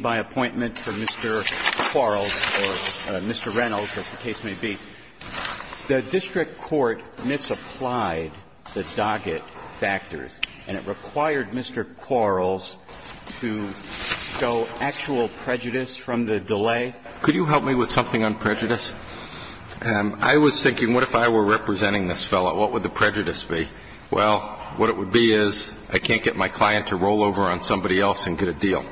by appointment for Mr. Quarles or Mr. Reynolds, as the case may be. The district court misapplied the docket factors, and it required Mr. Quarles to show actual prejudice from the delay. Could you help me with something on prejudice? I was thinking, what if I were representing this fellow? What would the prejudice be? Well, what it would be is, I can't get my client to roll over on somebody else and get a deal.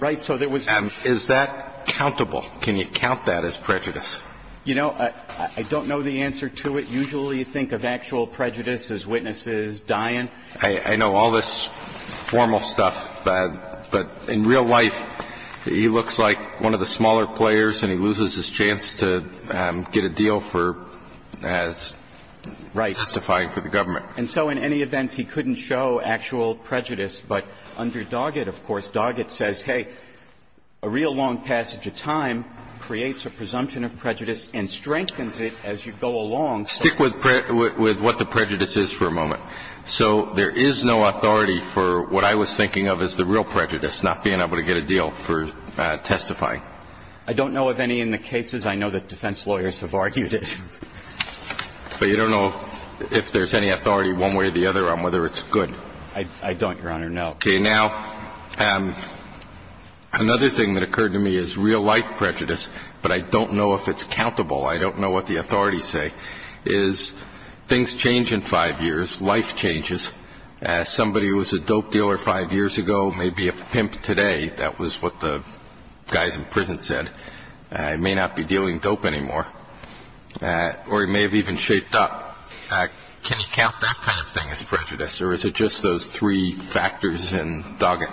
Right. So there was... Is that countable? Can you count that as prejudice? You know, I don't know the answer to it. Usually you think of actual prejudice as witnesses dying. I know all this formal stuff, but in real life, he looks like one of the smaller players, and he loses his chance to get a deal for as testifying for the government. And so in any event, he couldn't show actual prejudice. But under Doggett, of course, Doggett says, hey, a real long passage of time creates a presumption of prejudice and strengthens it as you go along. Stick with what the prejudice is for a moment. So there is no authority for what I was thinking of as the real prejudice, not being able to get a deal for testifying. I don't know of any in the cases. I know that defense lawyers have argued it. But you don't know if there's any authority one way or the other on whether it's good? I don't, Your Honor, no. Okay. Now, another thing that occurred to me is real life prejudice, but I don't know if it's countable. I don't know what the authorities say, is things change in five years, life changes. Somebody who was a dope dealer five years ago may be a pimp today. That was what the guys in prison said. He may not be dealing dope anymore, or he may have even shaped up. Can you count that kind of thing as prejudice, or is it just those three factors in Doggett?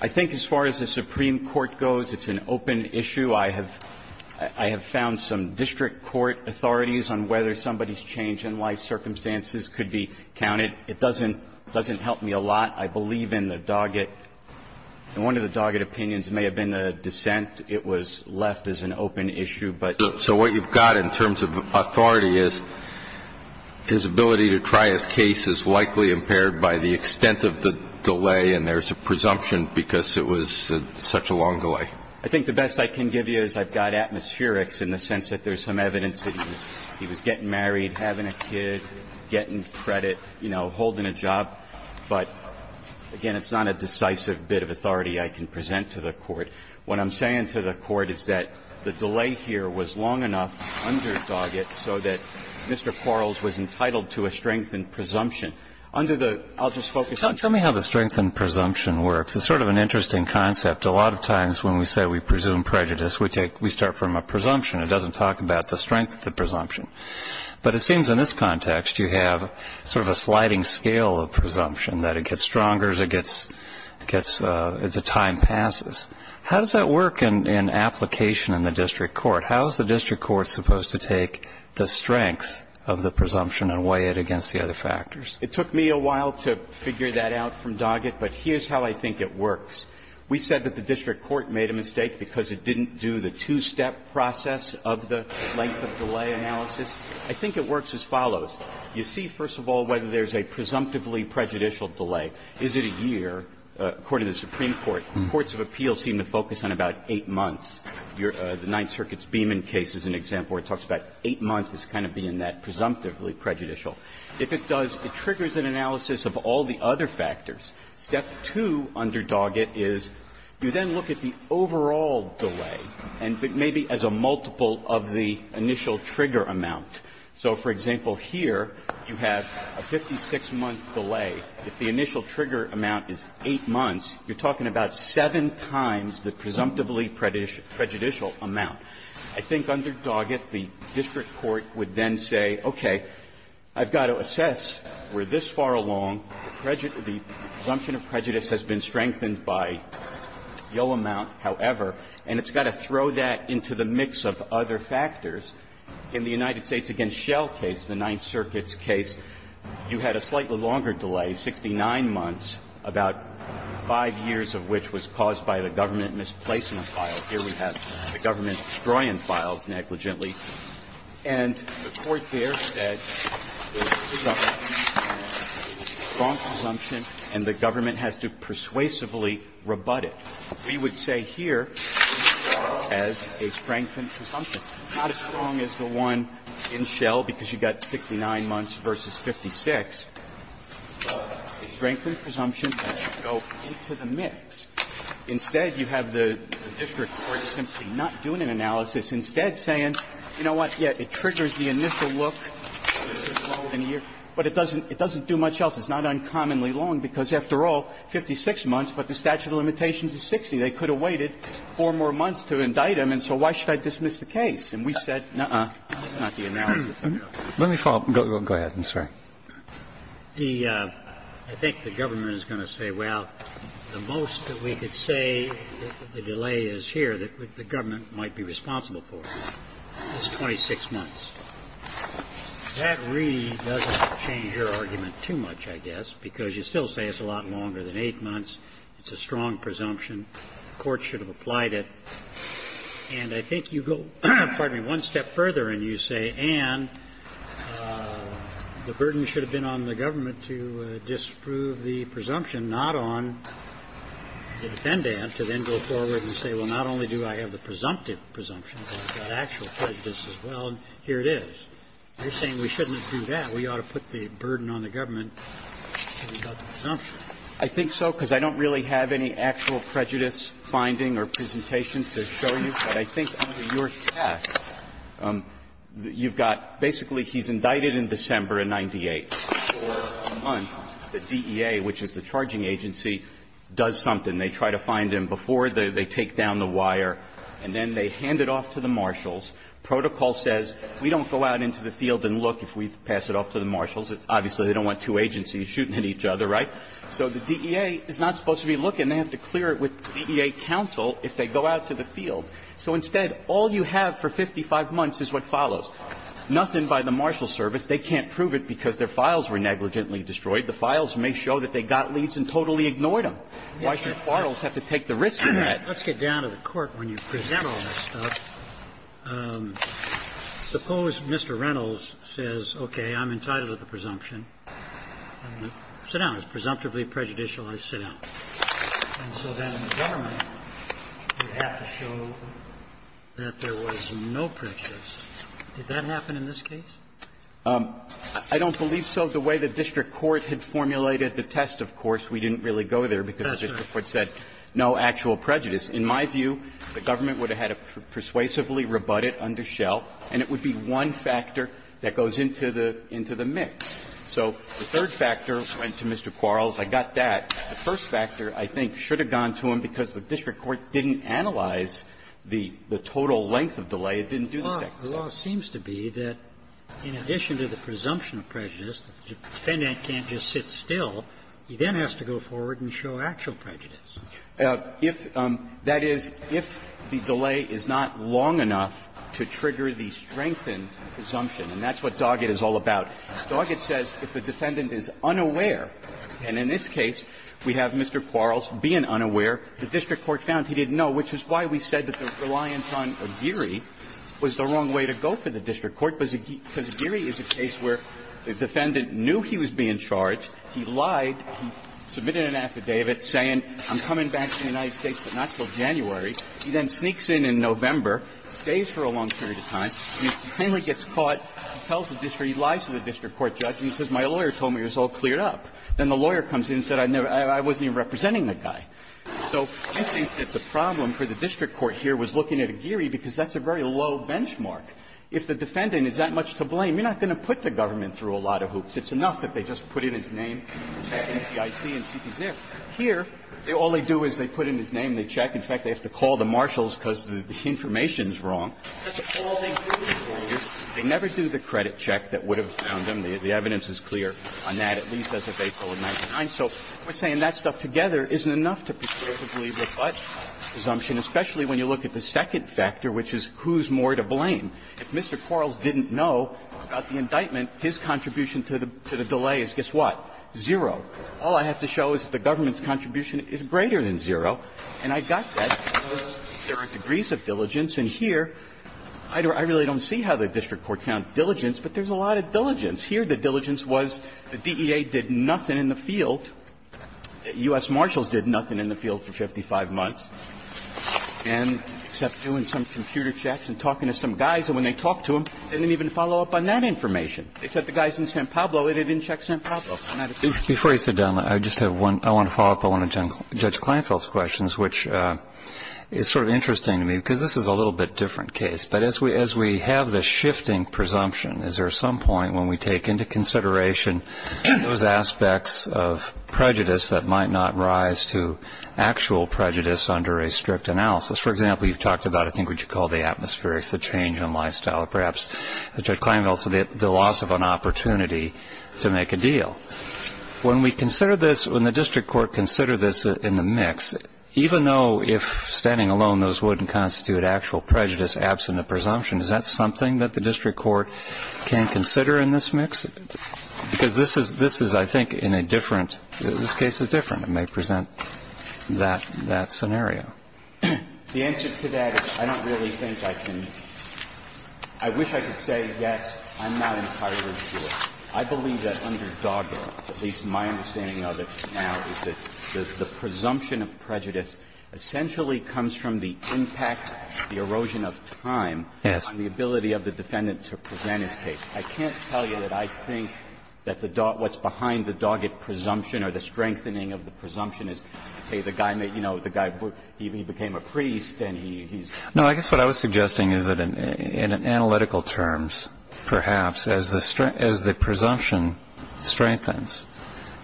I think as far as the Supreme Court goes, it's an open issue. I have found some district court authorities on whether somebody's change in life circumstances could be counted. It doesn't help me a lot. I believe in the Doggett. And one of the Doggett opinions may have been a dissent. It was left as an open issue. So what you've got in terms of authority is his ability to try his case is likely impaired by the extent of the delay, and there's a presumption because it was such a long delay. I think the best I can give you is I've got atmospherics in the sense that there's some evidence that he was getting married, having a kid, getting credit, you know, holding a job. But, again, it's not a decisive bit of authority I can present to the Court. What I'm saying to the Court is that the delay here was long enough under Doggett so that Mr. Quarles was entitled to a strength in presumption. Under the – I'll just focus on – Tell me how the strength in presumption works. It's sort of an interesting concept. A lot of times when we say we presume prejudice, we start from a presumption. It doesn't talk about the strength of the presumption. But it seems in this context you have sort of a sliding scale of presumption, that it gets stronger as it gets – as the time passes. How does that work in application in the district court? How is the district court supposed to take the strength of the presumption and weigh it against the other factors? It took me a while to figure that out from Doggett, but here's how I think it works. We said that the district court made a mistake because it didn't do the two-step process of the length of delay analysis. I think it works as follows. You see, first of all, whether there's a presumptively prejudicial delay. Is it a year? According to the Supreme Court, courts of appeal seem to focus on about eight months. Your – the Ninth Circuit's Beeman case is an example where it talks about eight months as kind of being that presumptively prejudicial. If it does, it triggers an analysis of all the other factors. Step two under Doggett is you then look at the overall delay and maybe as a multiple of the initial trigger amount. So, for example, here you have a 56-month delay. If the initial trigger amount is eight months, you're talking about seven times the presumptively prejudicial amount. I think under Doggett, the district court would then say, okay, I've got to assess where this far along the presumption of prejudice has been strengthened by no amount, however, and it's got to throw that into the mix of other factors. In the United States against Shell case, the Ninth Circuit's case, you had a slightly longer delay, 69 months, about five years of which was caused by the government misplacement file. Here we have the government destroy-in files negligently. And the court there said it was a strong presumption and the government has to persuasively rebut it. We would say here as a strengthened presumption, not as strong as the one in Shell because you've got 69 months versus 56, but a strengthened presumption that should go into the mix. Instead, you have the district court simply not doing an analysis. Instead saying, you know what, yes, it triggers the initial look, but it doesn't do much else. It's not uncommonly long because, after all, 56 months, but the statute of limitations is 60. They could have waited four more months to indict him, and so why should I dismiss the case? And we said, no, that's not the analysis. Let me follow up. Go ahead. I'm sorry. The ‑‑ I think the government is going to say, well, the most that we could say the delay is here that the government might be responsible for is 26 months. That really doesn't change your argument too much, I guess, because you still say it's a lot longer than 8 months. It's a strong presumption. The court should have applied it. And I think you go, pardon me, one step further, and you say, and the burden should have been on the government to disprove the presumption, not on the defendant to then go forward and say, well, not only do I have the presumptive presumption, but I've got actual prejudice as well, and here it is. You're saying we shouldn't do that. We ought to put the burden on the government until we've got the presumption. I think so, because I don't really have any actual prejudice finding or presentation to show you, but I think under your test, you've got ‑‑ basically, he's indicted in December of 98, for a month, the DEA, which is the charging agency, does something. They try to find him before they take down the wire, and then they hand it off to the marshals. Protocol says, we don't go out into the field and look if we pass it off to the marshals. Obviously, they don't want two agencies shooting at each other, right? So the DEA is not supposed to be looking. They have to clear it with DEA counsel if they go out to the field. So instead, all you have for 55 months is what follows. Nothing by the marshal service. They can't prove it because their files were negligently destroyed. The files may show that they got leads and totally ignored them. Why should quarrels have to take the risk of that? Let's get down to the court when you present all that stuff. Suppose Mr. Reynolds says, okay, I'm entitled to the presumption. Sit down. It's presumptively prejudicial. I sit down. And so then the gentleman would have to show that there was no prejudice. Did that happen in this case? I don't believe so. The way the district court had formulated the test, of course, we didn't really go there because the district court said no actual prejudice. In my view, the government would have had to persuasively rebut it under Schell, and it would be one factor that goes into the mix. So the third factor went to Mr. Quarles. I got that. The first factor, I think, should have gone to him because the district court didn't analyze the total length of delay. It didn't do the second thing. Well, the law seems to be that in addition to the presumption of prejudice, the defendant can't just sit still. He then has to go forward and show actual prejudice. That is, if the delay is not long enough to trigger the strengthened presumption. And that's what Doggett is all about. Doggett says if the defendant is unaware, and in this case we have Mr. Quarles being unaware, the district court found he didn't know, which is why we said that the reliance on Aguirre was the wrong way to go for the district court, because Aguirre is a case where the defendant knew he was being charged. He lied. He submitted an affidavit saying, I'm coming back to the United States, but not till January. He then sneaks in in November, stays for a long period of time, and he finally gets caught. He tells the district court, he lies to the district court judge, and he says, my lawyer told me it was all cleared up. Then the lawyer comes in and said, I wasn't even representing the guy. So I think that the problem for the district court here was looking at Aguirre because that's a very low benchmark. If the defendant has that much to blame, you're not going to put the government through a lot of hoops. It's enough that they just put in his name, check NCIT, and see if he's there. Here, all they do is they put in his name, they check. In fact, they have to call the marshals because the information is wrong. That's all they do. They never do the credit check that would have found him. The evidence is clear on that, at least as of April of 1999. So we're saying that stuff together isn't enough to be sure to believe the but presumption, especially when you look at the second factor, which is who's more to blame. And if Mr. Quarles didn't know about the indictment, his contribution to the delay is, guess what, zero. All I have to show is that the government's contribution is greater than zero. And I got that because there are degrees of diligence. And here, I really don't see how the district court found diligence, but there's a lot of diligence. Here, the diligence was the DEA did nothing in the field, U.S. Marshals did nothing in the field for 55 months, and except doing some computer checks and talking to some guys, and when they talked to them, they didn't even follow up on that information. Except the guys in San Pablo, they didn't check San Pablo. And I just don't see it. Before you sit down, I just have one – I want to follow up on one of Judge Kleinfeld's questions, which is sort of interesting to me because this is a little bit different case. But as we have this shifting presumption, is there some point when we take into consideration those aspects of prejudice that might not rise to actual prejudice under a strict analysis? For example, you've talked about, I think, what you call the atmospherics, the change in lifestyle, or perhaps, Judge Kleinfeld, the loss of an opportunity to make a deal. When we consider this, when the district court consider this in the mix, even though if standing alone those wouldn't constitute actual prejudice absent a presumption, is that something that the district court can consider in this mix? Because this is, I think, in a different – this case is different. It may present that scenario. The answer to that is I don't really think I can – I wish I could say, yes, I'm not entirely sure. I believe that under Doggett, at least my understanding of it now, is that the presumption of prejudice essentially comes from the impact, the erosion of time on the ability of the defendant to present his case. I can't tell you that I think that the – what's behind the Doggett presumption or the strengthening of the presumption is, hey, the guy, you know, the guy, he became a priest and he's – No, I guess what I was suggesting is that in analytical terms, perhaps, as the presumption strengthens,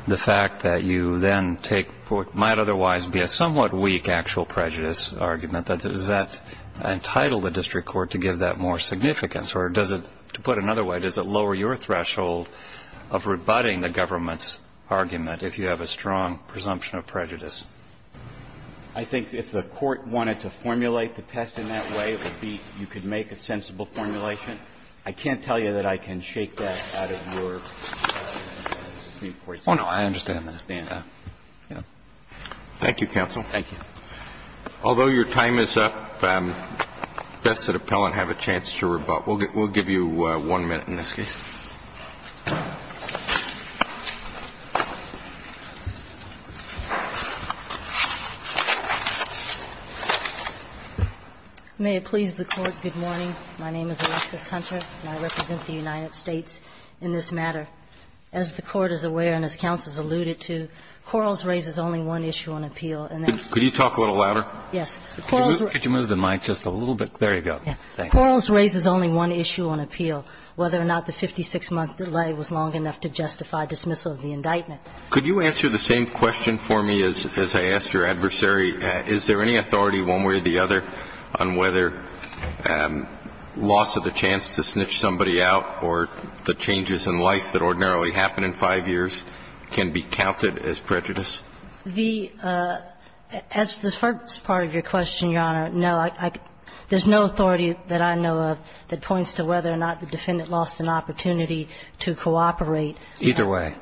the fact that you then take what might otherwise be a somewhat weak actual prejudice argument, that does that entitle the district court to give that more significance? Or does it – to put it another way, does it lower your threshold of rebutting the government's argument if you have a strong presumption of prejudice? I think if the Court wanted to formulate the test in that way, it would be you could make a sensible formulation. I can't tell you that I can shake that out of your view, Court, sir. Oh, no, I understand that. I understand that. Thank you, counsel. Thank you. Although your time is up, does the Depellent have a chance to rebut? We'll give you one minute in this case. May it please the Court, good morning. My name is Alexis Hunter, and I represent the United States in this matter. As the Court is aware and as counsel has alluded to, Quarles raises only one issue on appeal, and that's the 50-year-old case. Could you talk a little louder? Yes. Could you move the mic just a little bit? There you go. Quarles raises only one issue on appeal, whether or not the 56-month delay was long enough to justify dismissal of the indictment. Could you answer the same question for me as I asked your adversary? Is there any authority one way or the other on whether loss of the chance to snitch somebody out or the changes in life that ordinarily happen in five years can be counted as prejudice? The as the first part of your question, Your Honor, no. There's no authority that I know of that points to whether or not the defendant lost an opportunity to cooperate. Either way.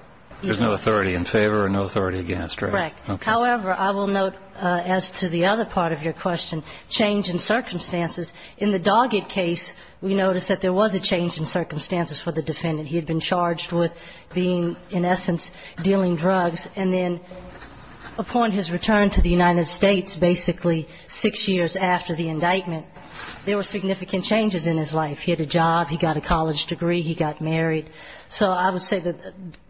There's no authority in favor or no authority against, right? Correct. However, I will note as to the other part of your question, change in circumstances. In the Doggett case, we noticed that there was a change in circumstances for the defendant. He had been charged with being, in essence, dealing drugs, and then, upon his return to the United States, basically six years after the indictment, there were significant changes in his life. He had a job, he got a college degree, he got married. So I would say that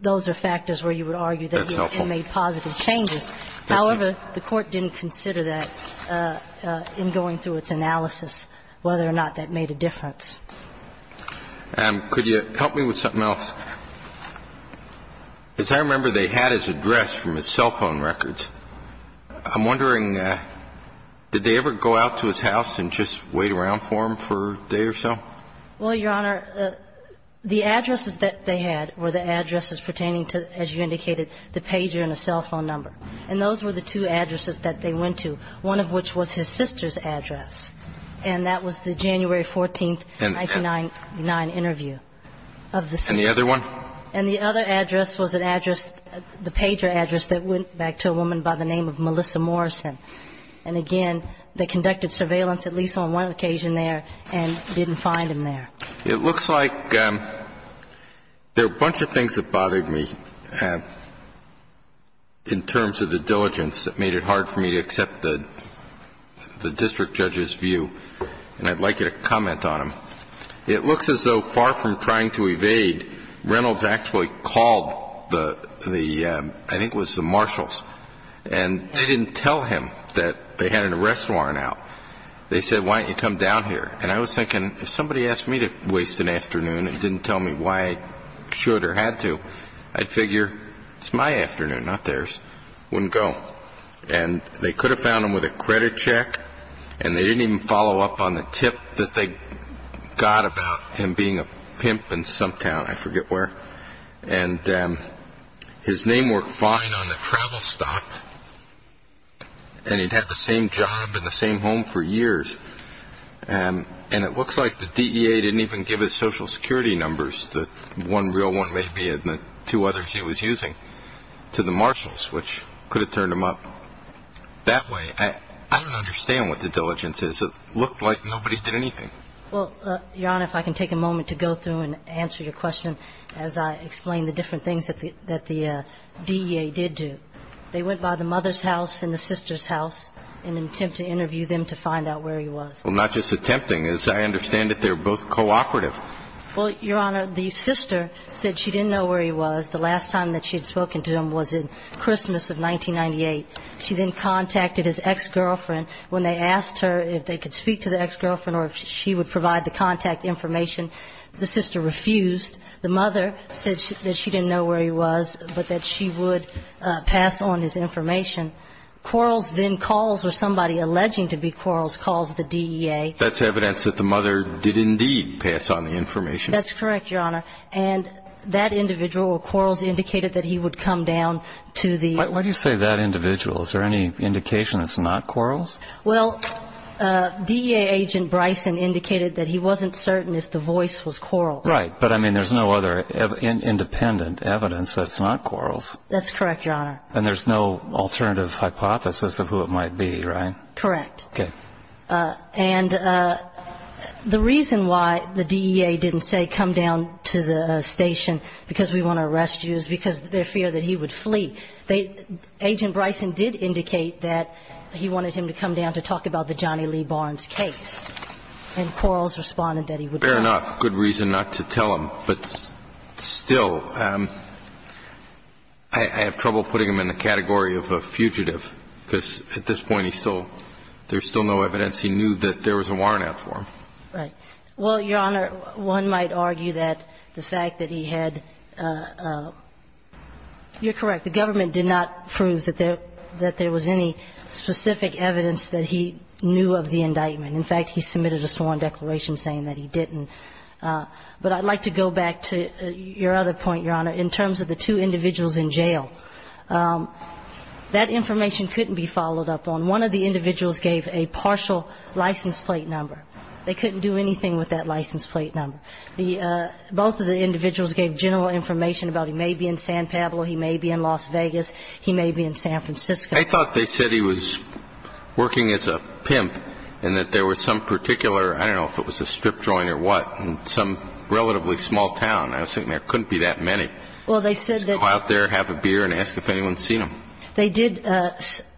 those are factors where you would argue that he made positive changes. However, the Court didn't consider that in going through its analysis, whether or not that made a difference. Could you help me with something else? Because I remember they had his address from his cell phone records. I'm wondering, did they ever go out to his house and just wait around for him for a day or so? Well, Your Honor, the addresses that they had were the addresses pertaining to, as you indicated, the pager and the cell phone number. And those were the two addresses that they went to, one of which was his sister's address, and that was the January 14th, 1999 interview of the sister. And the other one? And the other address was an address, the pager address, that went back to a woman by the name of Melissa Morrison. And again, they conducted surveillance at least on one occasion there and didn't find him there. It looks like there are a bunch of things that bothered me in terms of the diligence that made it hard for me to accept the district judge's view, and I'd like you to comment on them. It looks as though far from trying to evade, Reynolds actually called the, I think it was the marshals, and they didn't tell him that they had an arrest warrant out. They said, why don't you come down here? And I was thinking, if somebody asked me to waste an afternoon and didn't tell me why I should or had to, I'd figure it's my afternoon, not theirs, wouldn't go. And they could have found him with a credit check, and they didn't even follow up on the tip that they got about him being a pimp in some town, I forget where. And his name worked fine on the travel stuff, and he'd had the same job and the same home for years. And it looks like the DEA didn't even give his social security numbers, the one real one maybe and the two others he was using, to the marshals, which could have turned him up. That way, I don't understand what the diligence is. It looked like nobody did anything. Well, Your Honor, if I can take a moment to go through and answer your question as I explain the different things that the DEA did do. They went by the mother's house and the sister's house in an attempt to interview them to find out where he was. Well, not just attempting. As I understand it, they were both cooperative. Well, Your Honor, the sister said she didn't know where he was. The last time that she had spoken to him was in Christmas of 1998. She then contacted his ex-girlfriend. When they asked her if they could speak to the ex-girlfriend or if she would provide the contact information, the sister refused. The mother said that she didn't know where he was, but that she would pass on his information. Quarles then calls, or somebody alleging to be Quarles calls the DEA. That's evidence that the mother did indeed pass on the information. That's correct, Your Honor. And that individual, or Quarles, indicated that he would come down to the DEA. Why do you say that individual? Is there any indication it's not Quarles? Well, DEA agent Bryson indicated that he wasn't certain if the voice was Quarles. Right, but I mean, there's no other independent evidence that's not Quarles. That's correct, Your Honor. And there's no alternative hypothesis of who it might be, right? Correct. Okay. And the reason why the DEA didn't say come down to the station because we want to arrest you is because their fear that he would flee. Agent Bryson did indicate that he wanted him to come down to talk about the Johnny Lee Barnes case. And Quarles responded that he would not. Fair enough. Good reason not to tell him. But still, I have trouble putting him in the category of a fugitive, because at this point, he's still – there's still no evidence. He knew that there was a warrant out for him. Right. Well, Your Honor, one might argue that the fact that he had – you're correct. The government did not prove that there was any specific evidence that he knew of the indictment. In fact, he submitted a sworn declaration saying that he didn't. But I'd like to go back to your other point, Your Honor, in terms of the two individuals in jail. That information couldn't be followed up on. One of the individuals gave a partial license plate number. They couldn't do anything with that license plate number. The – both of the individuals gave general information about he may be in San Pablo, he may be in Las Vegas, he may be in San Francisco. I thought they said he was working as a pimp and that there was some particular – I don't know if it was a strip joint or what in some relatively small town. I was thinking there couldn't be that many. Well, they said that – Just go out there, have a beer, and ask if anyone's seen him. They did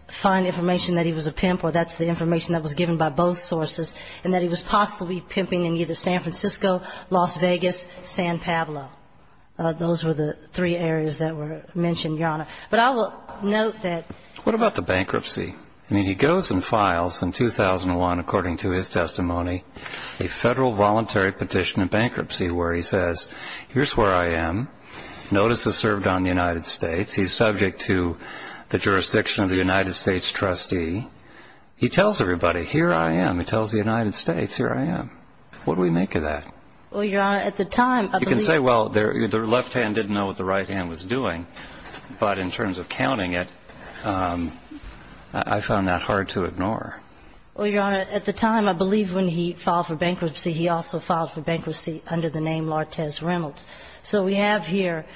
find information that he was a pimp, or that's the information that was given by both sources, and that he was possibly pimping in either San Francisco, Las Vegas, San Pablo. Those were the three areas that were mentioned, Your Honor. But I will note that – What about the bankruptcy? I mean, he goes and files in 2001, according to his testimony, a Federal voluntary petition of bankruptcy where he says, here's where I am, notice is served on the United States, he's subject to the jurisdiction of the United States trustee. He tells everybody, here I am. He tells the United States, here I am. What do we make of that? Well, Your Honor, at the time – You can say, well, the left hand didn't know what the right hand was doing, but in terms of counting it, I found that hard to ignore. Well, Your Honor, at the time, I believe when he filed for bankruptcy, he also filed for bankruptcy under the name Lortez Reynolds. So we have here,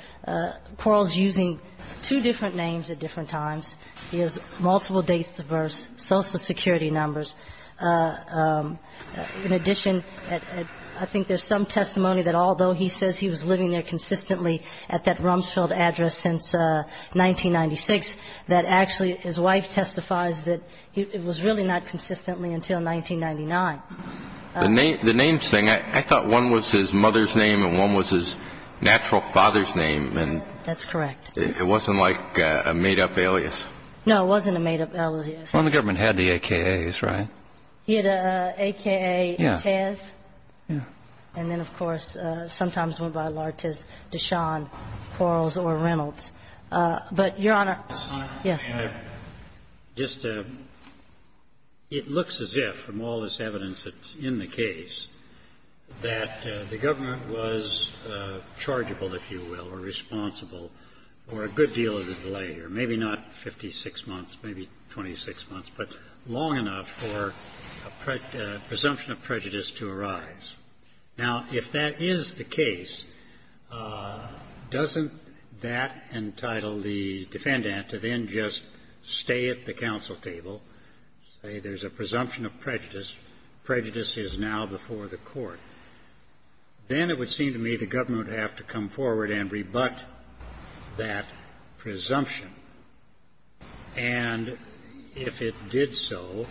Quarles using two different names at different times. He has multiple dates to verse, Social Security numbers. In addition, I think there's some testimony that although he says he was living there consistently at that Rumsfeld address since 1996, that actually his wife testifies that it was really not consistently until 1999. The names thing, I thought one was his mother's name and one was his natural father's name. That's correct. It wasn't like a made-up alias? No, it wasn't a made-up alias. Well, the government had the AKAs, right? He had an AKA in Taz. Yeah. And then, of course, sometimes went by Lortez, Deshawn, Quarles, or Reynolds. But, Your Honor – Yes. Just it looks as if, from all this evidence that's in the case, that the government was chargeable, if you will, or responsible for a good deal of the delay, or maybe not 56 months, maybe 26 months, but long enough for a presumption of prejudice to arise. Now, if that is the case, doesn't that entitle the defendant to then just stay at the counsel table, say there's a presumption of prejudice, prejudice is now before the court? Then it would seem to me the government would have to come forward and rebut that presumption. And if it did so,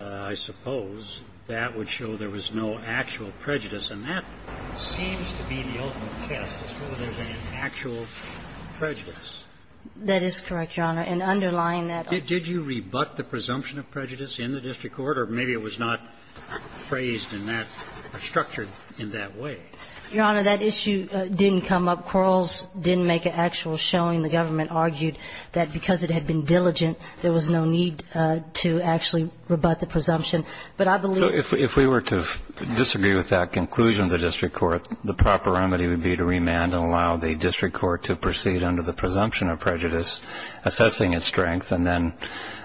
I suppose that would show there was no actual prejudice. And that seems to be the ultimate test, to show there's an actual prejudice. That is correct, Your Honor. And underlying that – Did you rebut the presumption of prejudice in the district court? Or maybe it was not phrased in that – structured in that way. Your Honor, that issue didn't come up. Quarrels didn't make an actual showing. The government argued that because it had been diligent, there was no need to actually rebut the presumption. But I believe – So if we were to disagree with that conclusion of the district court, the proper remedy would be to remand and allow the district court to proceed under the presumption of prejudice, assessing its strength, and then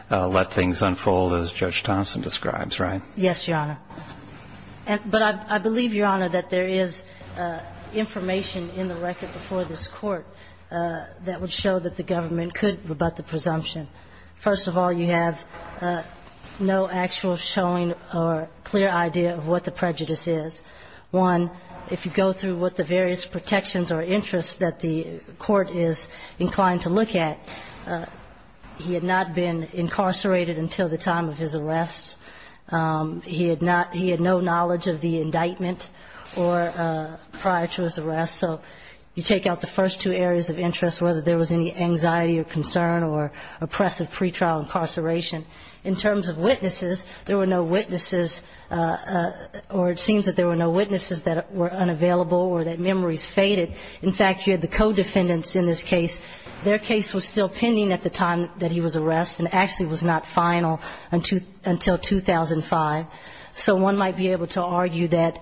let things unfold as Judge Thompson describes, right? Yes, Your Honor. But I believe, Your Honor, that there is information in the record before this court that would show that the government could rebut the presumption. First of all, you have no actual showing or clear idea of what the prejudice is. One, if you go through what the various protections or interests that the court is inclined to look at, he had not been incarcerated until the time of his arrest. He had not – he had no knowledge of the indictment or prior to his arrest. So you take out the first two areas of interest, whether there was any anxiety or concern or oppressive pretrial incarceration. In terms of witnesses, there were no witnesses, or it seems that there were no witnesses that were unavailable or that memories faded. In fact, you had the co-defendants in this case. Their case was still pending at the time that he was arrested and actually was not final until 2005, so one might be able to argue that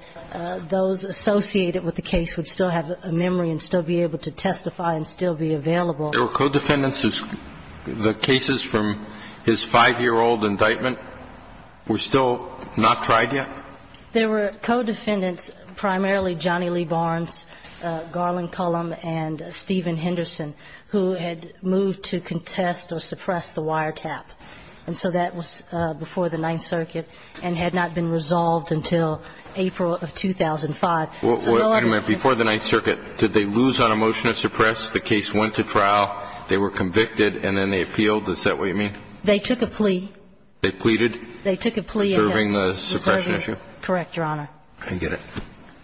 those associated with the case would still have a memory and still be able to testify and still be available. There were co-defendants who – the cases from his 5-year-old indictment were still not tried yet? There were co-defendants, primarily Johnny Lee Barnes, Garland Cullum, and Stephen Henderson, who had moved to contest or suppress the wiretap. And so that was before the Ninth Circuit and had not been resolved until April of 2005. So no other defendants – Wait a minute. Before the Ninth Circuit, did they lose on a motion to suppress? The case went to trial. They were convicted, and then they appealed. Is that what you mean? They took a plea. They pleaded? They took a plea and had – Reserving the suppression issue? Correct, Your Honor. I get it.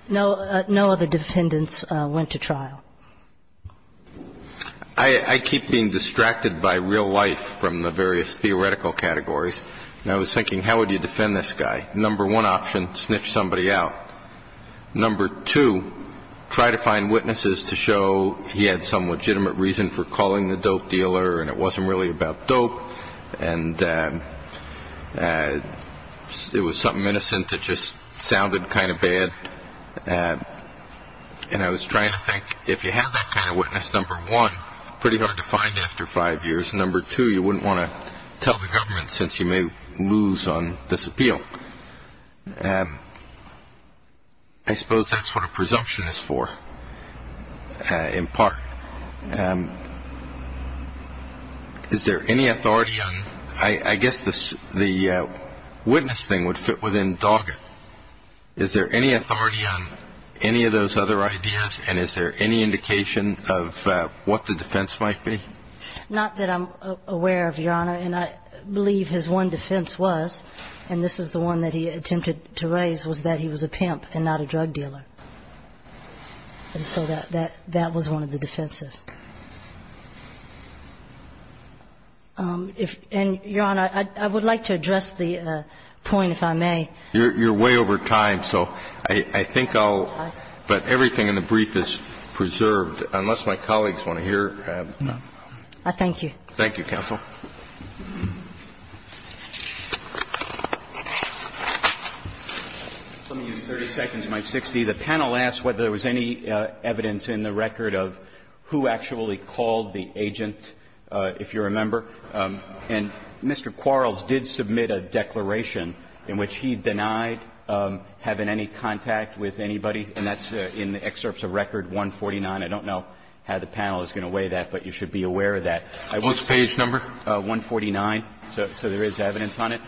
No other defendants went to trial. I keep being distracted by real life from the various theoretical categories. And I was thinking, how would you defend this guy? Number one option, snitch somebody out. Number two, try to find witnesses to show he had some legitimate reason for calling the dope dealer and it wasn't really about dope and it was something innocent that just sounded kind of bad. And I was trying to think, if you had that kind of witness, number one, pretty hard to find after five years. Number two, you wouldn't want to tell the government since you may lose on this appeal. I suppose that's what a presumption is for, in part. Is there any authority on – I guess the witness thing would fit within dogged. Is there any authority on any of those other ideas and is there any indication of what the defense might be? Not that I'm aware of, Your Honor, and I believe his one defense was, and this is the one that he attempted to raise, was that he was a pimp and not a drug dealer. And so that was one of the defenses. And, Your Honor, I would like to address the point, if I may. You're way over time, so I think I'll – but everything in the brief is preserved, unless my colleagues want to hear. I thank you. Thank you, counsel. Let me use 30 seconds of my 60. The panel asked whether there was any evidence in the record of who actually called the agent, if you remember. And Mr. Quarles did submit a declaration in which he denied having any contact with anybody, and that's in the excerpts of Record 149. I don't know how the panel is going to weigh that, but you should be aware of that. What's the page number? 149, so there is evidence on it.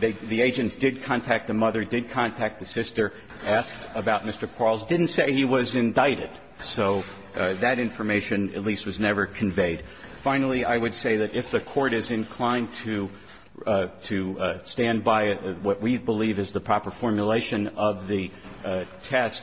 The agents did contact the mother, did contact the sister, asked about Mr. Quarles, didn't say he was indicted. So that information at least was never conveyed. Finally, I would say that if the court is inclined to stand by what we believe is the proper formulation of the test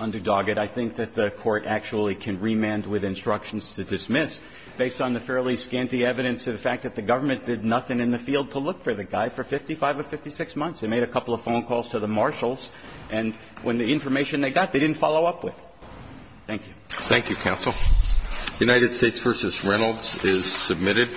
under Doggett, I think that the court actually can remand with instructions to dismiss, based on the fairly scanty evidence of the fact that the government did nothing in the field to look for the guy for 55 or 56 months. They made a couple of phone calls to the marshals, and when the information they got, they didn't follow up with. Thank you. Thank you, counsel. United States v. Reynolds is submitted.